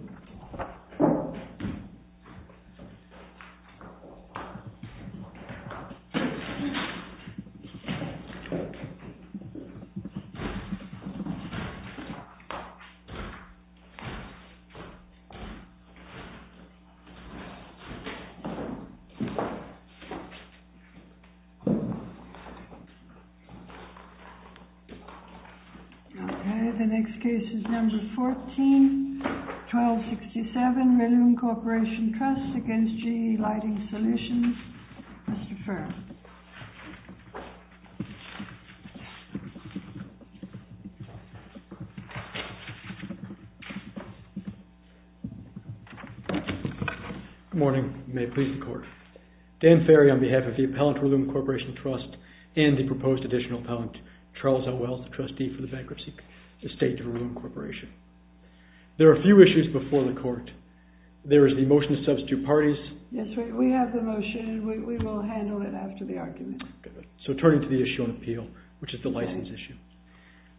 �묘 Okay, the next case is number 14, 1267, Raloom Corporation Trust against GE Lighting Solutions. Mr. Ferry. Good morning. May it please the court. Dan Ferry on behalf of the appellant Raloom Corporation Trust and the proposed additional appellant Charles L. Wells, the trustee for the bankruptcy estate of Raloom Corporation. There are a few issues before the court. There is the motion to substitute parties. Yes, we have the motion. We will handle it after the argument. So turning to the issue on appeal, which is the license issue.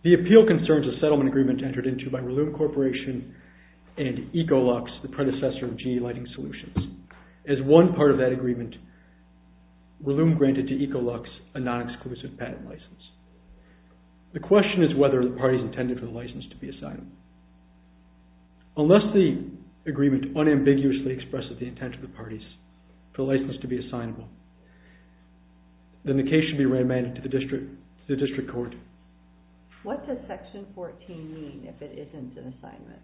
The appeal concerns a settlement agreement entered into by Raloom Corporation and EcoLux, the predecessor of GE Lighting Solutions. As one part of that agreement, Raloom granted to EcoLux a non-exclusive patent license. The question is whether the parties intended for the license to be assignable. Unless the agreement unambiguously expresses the intent of the parties for the license to be assignable, then the case should be remanded to the district court. What does section 14 mean if it isn't an assignment?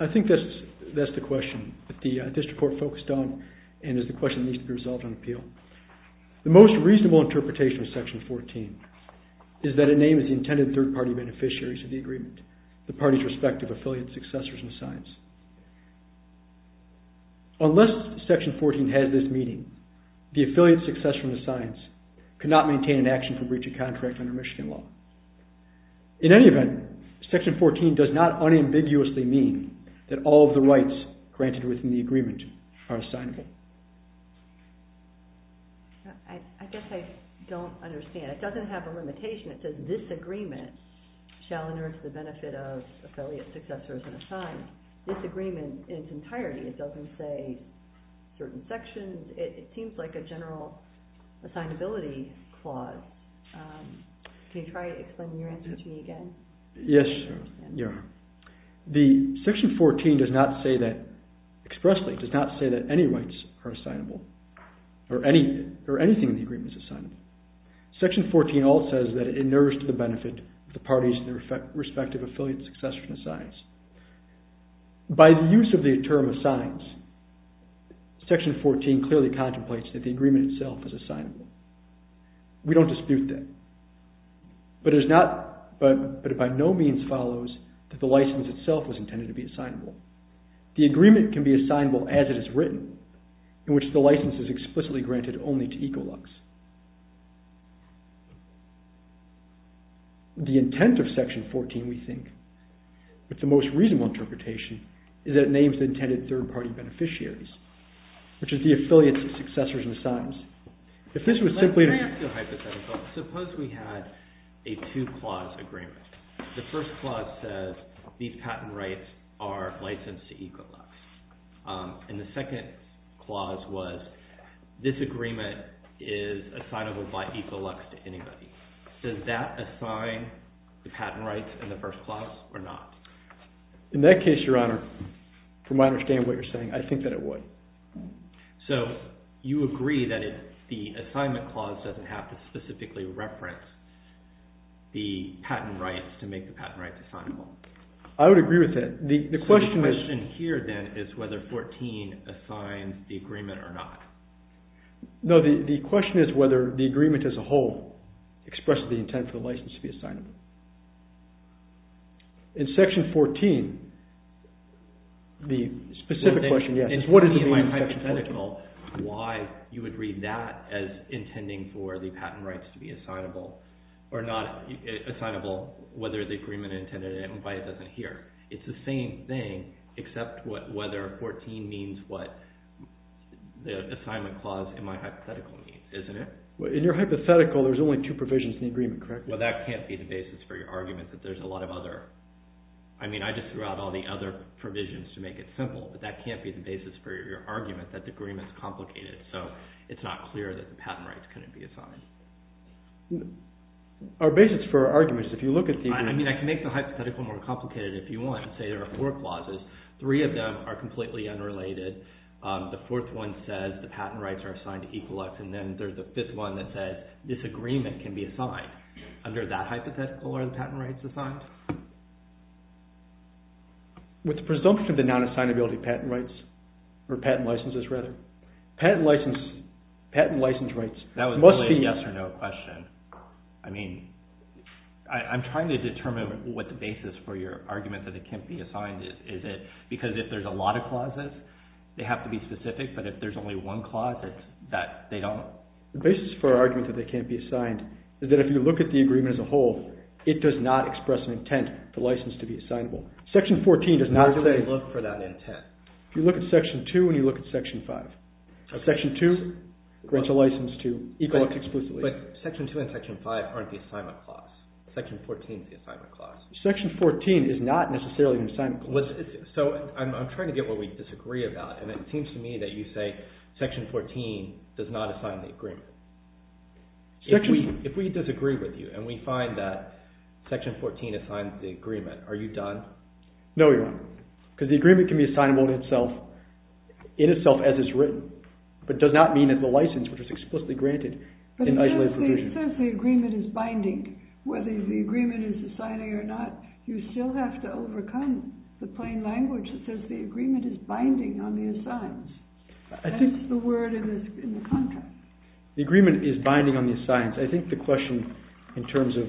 I think that's the question that the district court focused on and is the question that needs to be resolved on appeal. The most reasonable interpretation of section 14 is that it names the intended third-party beneficiaries of the agreement, the parties' respective affiliate successors in the science. Unless section 14 has this meaning, the affiliate successor in the science cannot maintain an action for breach of contract under Michigan law. In any event, section 14 does not unambiguously mean that all of the rights granted within the agreement are assignable. I guess I don't understand. It doesn't have a limitation. It says this agreement shall inert the benefit of affiliate successors in the science. This agreement in its entirety, it doesn't say certain sections. It seems like a general assignability clause. Can you try explaining your answer to me again? Yes. The section 14 does not say that expressly, it does not say that any rights are assignable or anything in the agreement is assignable. Section 14 all says that it inerts the benefit of the parties' respective affiliate successors in the science. By the use of the term assigns, section 14 clearly contemplates that the agreement itself is assignable. We don't dispute that, but it by no means follows that the license itself was intended to be assignable. The agreement can be assignable as it is written, in which the license is explicitly granted only to Equilux. The intent of section 14, we think, with the most reasonable interpretation, is that it names the intended third party beneficiaries, which is the affiliate successors in the science. Let me ask you a hypothetical. Suppose we had a two-clause agreement. The first clause says these patent rights are licensed to Equilux, and the second clause was this agreement is assignable by Equilux to anybody. Does that assign the patent rights in the first clause or not? In that case, Your Honor, from what I understand what you're saying, I think that it would. So you agree that the assignment clause doesn't have to specifically reference the patent rights to make the patent rights assignable? I would agree with that. So the question here, then, is whether 14 assigns the agreement or not? No, the question is whether the agreement as a whole expresses the intent for the license to be assignable. In section 14, the specific question, yes, is what does it mean in section 14? In my hypothetical, why you would read that as intending for the patent rights to be assignable or not assignable, whether the agreement intended by it doesn't adhere. It's the same thing, except whether 14 means what the assignment clause in my hypothetical means, isn't it? In your hypothetical, there's only two provisions in the agreement, correct? Well, that can't be the basis for your argument that there's a lot of other... I mean, I just threw out all the other provisions to make it simple, but that can't be the basis for your argument that the agreement's complicated. So it's not clear that the patent rights couldn't be assigned. Our basis for our argument is if you look at the agreement... I mean, I can make the hypothetical more complicated if you want. Say there are four clauses. Three of them are completely unrelated. The fourth one says the patent rights are assigned to Equilux, and then there's a fifth one that says this agreement can be assigned. Under that hypothetical, are the patent rights assigned? With the presumption of the non-assignability patent rights, or patent licenses, rather. Patent license rights must be... That was a yes or no question. I mean, I'm trying to determine what the basis for your argument that it can't be assigned is. Is it because if there's a lot of clauses, they have to be specific, but if there's only one clause, it's that they don't... The basis for our argument that they can't be assigned is that if you look at the agreement as a whole, it does not express an intent for license to be assignable. Section 14 does not say... Where do we look for that intent? If you look at Section 2 and you look at Section 5. Section 2 grants a license to Equilux exclusively. But Section 2 and Section 5 aren't the assignment clause. Section 14 is the assignment clause. Section 14 is not necessarily an assignment clause. So, I'm trying to get what we disagree about, and it seems to me that you say Section 14 does not assign the agreement. If we disagree with you and we find that Section 14 assigns the agreement, are you done? No, you aren't. Because the agreement can be assignable in itself, in itself as it's written, but does not mean that the license, which is explicitly granted... But it says the agreement is binding. Whether the agreement is assigning or not, you still have to overcome the plain language that says the agreement is binding on the assigns. That's the word in the contract. The agreement is binding on the assigns. I think the question in terms of...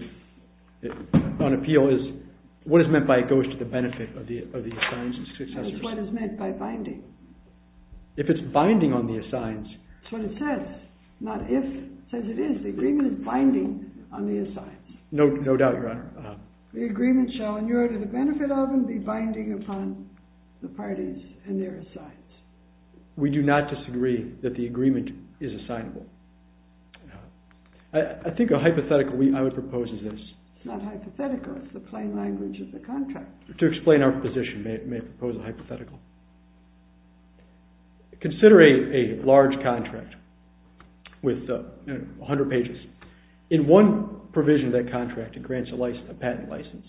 What is meant by it goes to the benefit of the assigns and successors. That's what is meant by binding. If it's binding on the assigns... That's what it says. Not if. It says it is. The agreement is binding on the assigns. No doubt, Your Honor. The agreement shall inure to the benefit of and be binding upon the parties and their assigns. We do not disagree that the agreement is assignable. I think a hypothetical I would propose is this. It's not hypothetical. It's the plain language of the contract. To explain our position, may I propose a hypothetical? Consider a large contract with 100 pages. In one provision of that contract, it grants a patent license.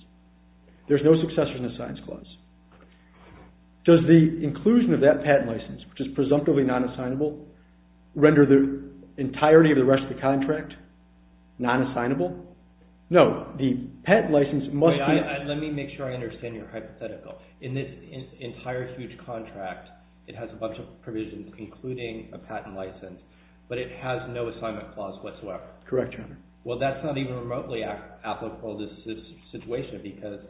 There's no successors in the signs clause. Does the inclusion of that patent license, which is presumptively non-assignable, render the entirety of the rest of the contract non-assignable? No. The patent license must be... Let me make sure I understand your hypothetical. In this entire huge contract, it has a bunch of provisions, including a patent license, but it has no assignment clause whatsoever. Correct, Your Honor. Well, that's not even remotely applicable to this situation because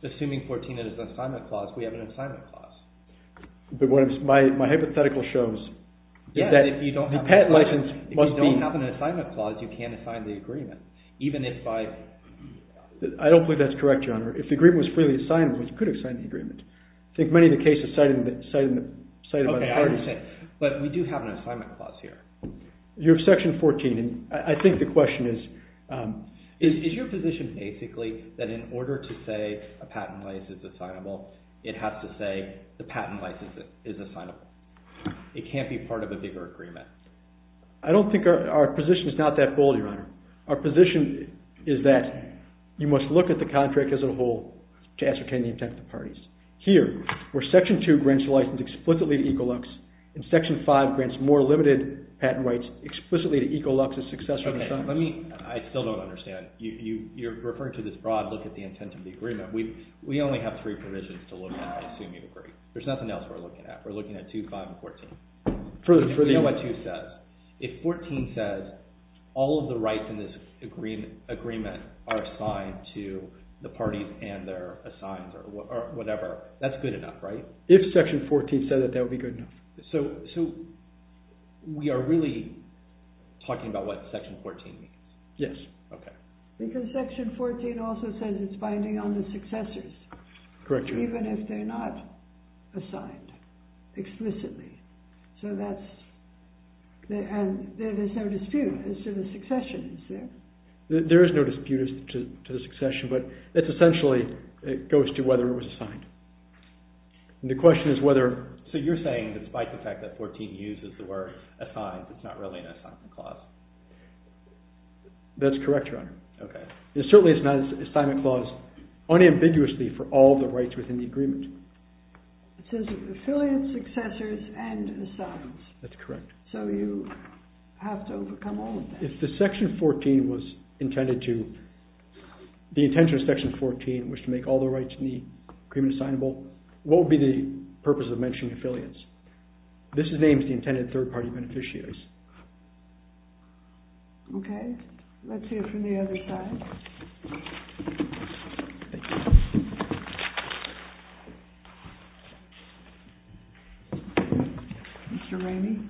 assuming 14 is an assignment clause, we have an assignment clause. My hypothetical shows that the patent license must be... If you don't have an assignment clause, you can't assign the agreement, even if by... I don't believe that's correct, Your Honor. If the agreement was freely assignable, you could assign the agreement. I think many of the cases cited by the parties... Okay, I understand. But we do have an assignment clause here. You have Section 14, and I think the question is... Is your position basically that in order to say a patent license is assignable, it has to say the patent license is assignable? It can't be part of a bigger agreement. I don't think our position is not that bold, Your Honor. Our position is that you must look at the contract as a whole to ascertain the intent of the parties. Here, where Section 2 grants the license explicitly to Ecolux, and Section 5 grants more limited patent rights explicitly to Ecolux as successor to... Okay, let me... I still don't understand. You're referring to this broad look at the intent of the agreement. We only have three provisions to look at, I assume you agree. There's nothing else we're looking at. We're looking at 2, 5, and 14. We know what 2 says. If 14 says all of the rights in this agreement are assigned to the parties and they're assigned or whatever, that's good enough, right? If Section 14 said that, that would be good enough. So we are really talking about what Section 14 means? Yes. Okay. Because Section 14 also says it's binding on the successors. Correct, Your Honor. Even if they're not assigned explicitly. So that's... And there's no dispute as to the succession, is there? There is no dispute as to the succession, but it's essentially, it goes to whether it was assigned. And the question is whether... So you're saying that despite the fact that 14 uses the word assigned, it's not really an assignment clause? That's correct, Your Honor. Okay. It certainly is not an assignment clause unambiguously for all the rights within the agreement. It says affiliates, successors, and assigned. That's correct. So you have to overcome all of that. If the intention of Section 14 was to make all the rights in the agreement assignable, what would be the purpose of mentioning affiliates? This names the intended third-party beneficiaries. Okay. Let's hear from the other side. Thank you. Mr. Ramey?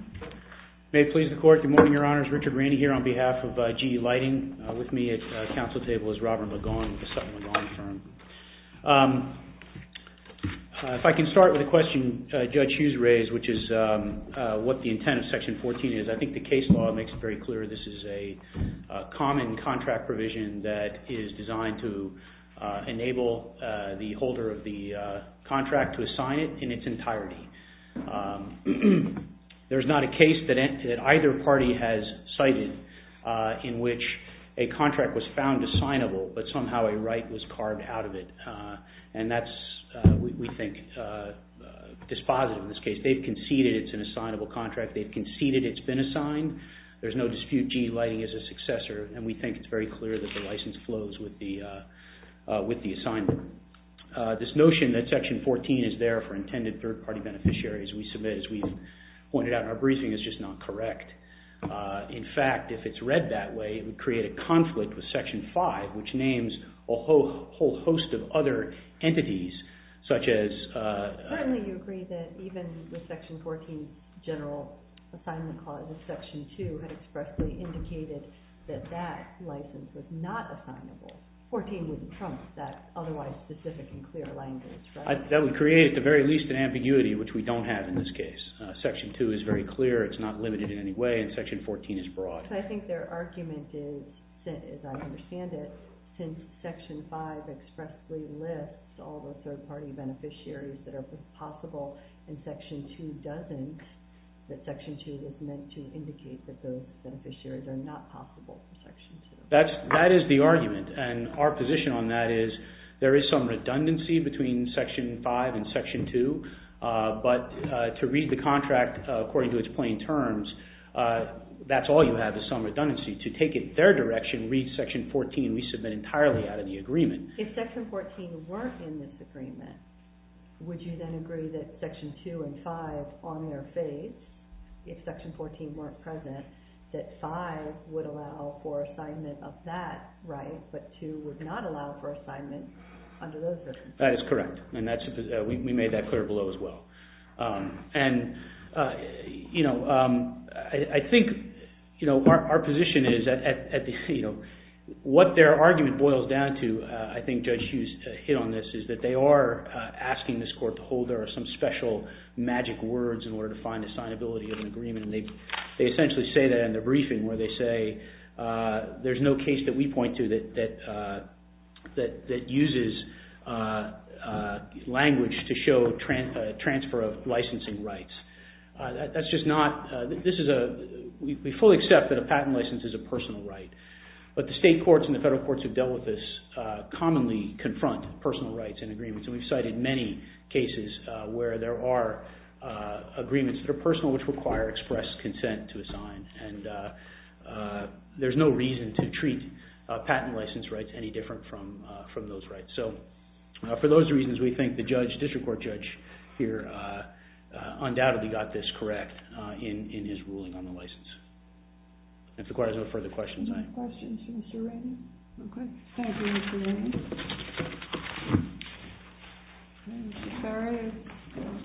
May it please the Court. Good morning, Your Honors. Richard Ramey here on behalf of GE Lighting. With me at the Council table is Robert McGaughan with the Sutton McGaughan Firm. If I can start with the question Judge Hughes raised, which is what the intent of Section 14 is, I think the case law makes it very clear this is a common contract provision that is designed to enable the holder of the contract to assign it in its entirety. There's not a case that either party has cited in which a contract was found assignable, but somehow a right was carved out of it, and that's, we think, dispositive in this case. They've conceded it's an assignable contract. They've conceded it's been assigned. There's no dispute GE Lighting is a successor, and we think it's very clear that the license flows with the assignment. This notion that Section 14 is there for intended third-party beneficiaries we submit, as we've pointed out in our briefing, is just not correct. In fact, if it's read that way, it would create a conflict with Section 5, which names a whole host of other entities, such as... Certainly you agree that even the Section 14 general assignment clause of Section 2 had expressly indicated that that license was not assignable. 14 wouldn't trump that otherwise specific and clear language, right? That would create, at the very least, an ambiguity, which we don't have in this case. Section 2 is very clear. It's not limited in any way, and Section 14 is broad. I think their argument is, as I understand it, since Section 5 expressly lists all the third-party beneficiaries that are possible and Section 2 doesn't, that Section 2 is meant to indicate that those beneficiaries are not possible for Section 2. That is the argument, and our position on that is there is some redundancy between Section 5 and Section 2, but to read the contract according to its plain terms, that's all you have is some redundancy. To take it in their direction, read Section 14, we submit entirely out of the agreement. If Section 14 weren't in this agreement, would you then agree that Section 2 and 5, on their face, if Section 14 weren't present, that 5 would allow for assignment of that right, but 2 would not allow for assignment under those circumstances? That is correct, and we made that clear below as well. I think our position is that what their argument boils down to, and I think Judge Hughes hit on this, is that they are asking this Court to hold there are some special magic words in order to find assignability of an agreement, and they essentially say that in their briefing, where they say there's no case that we point to that uses language to show transfer of licensing rights. We fully accept that a patent license is a personal right, but the state courts and the federal courts who have dealt with this commonly confront personal rights in agreements, and we've cited many cases where there are agreements that are personal which require express consent to assign, and there's no reason to treat patent license rights any different from those rights. So, for those reasons, we think the District Court Judge here undoubtedly got this correct in his ruling on the license. If the Court has no further questions, I... No further questions for Mr. Rainey? Okay. Thank you, Mr. Rainey. Is there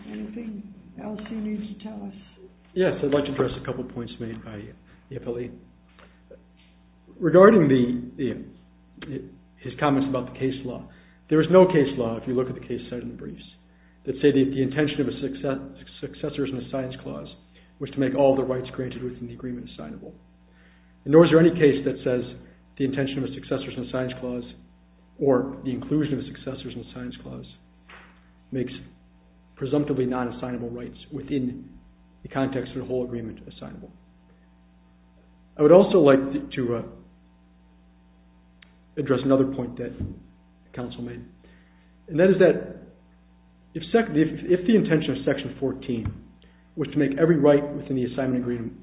anything else you need to tell us? Yes, I'd like to address a couple of points made by the appellee. Regarding his comments about the case law, there is no case law, if you look at the case cited in the briefs, that say the intention of a successor in a science clause was to make all the rights granted within the agreement assignable. Nor is there any case that says the intention of a successor in a science clause or the inclusion of a successor in a science clause makes presumptively non-assignable rights within the context of the whole agreement assignable. I would also like to address another point that the counsel made, and that is that if the intention of Section 14 was to make every right within the assignment agreement...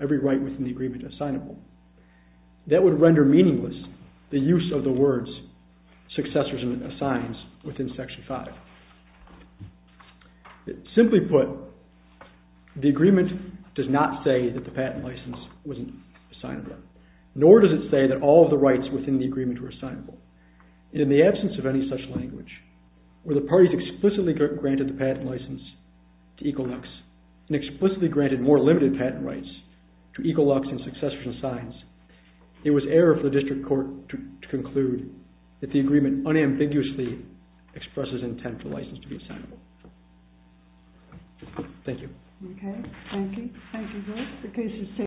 every right within the agreement assignable, that would render meaningless the use of the words successors in a science within Section 5. Simply put, the agreement does not say that the patent license wasn't assignable, nor does it say that all of the rights within the agreement were assignable. In the absence of any such language, where the parties explicitly granted the patent license to Equinox and explicitly granted more limited patent rights to Equinox and successors in science, it was error for the district court to conclude that the agreement unambiguously expresses intent for license to be assignable. Thank you.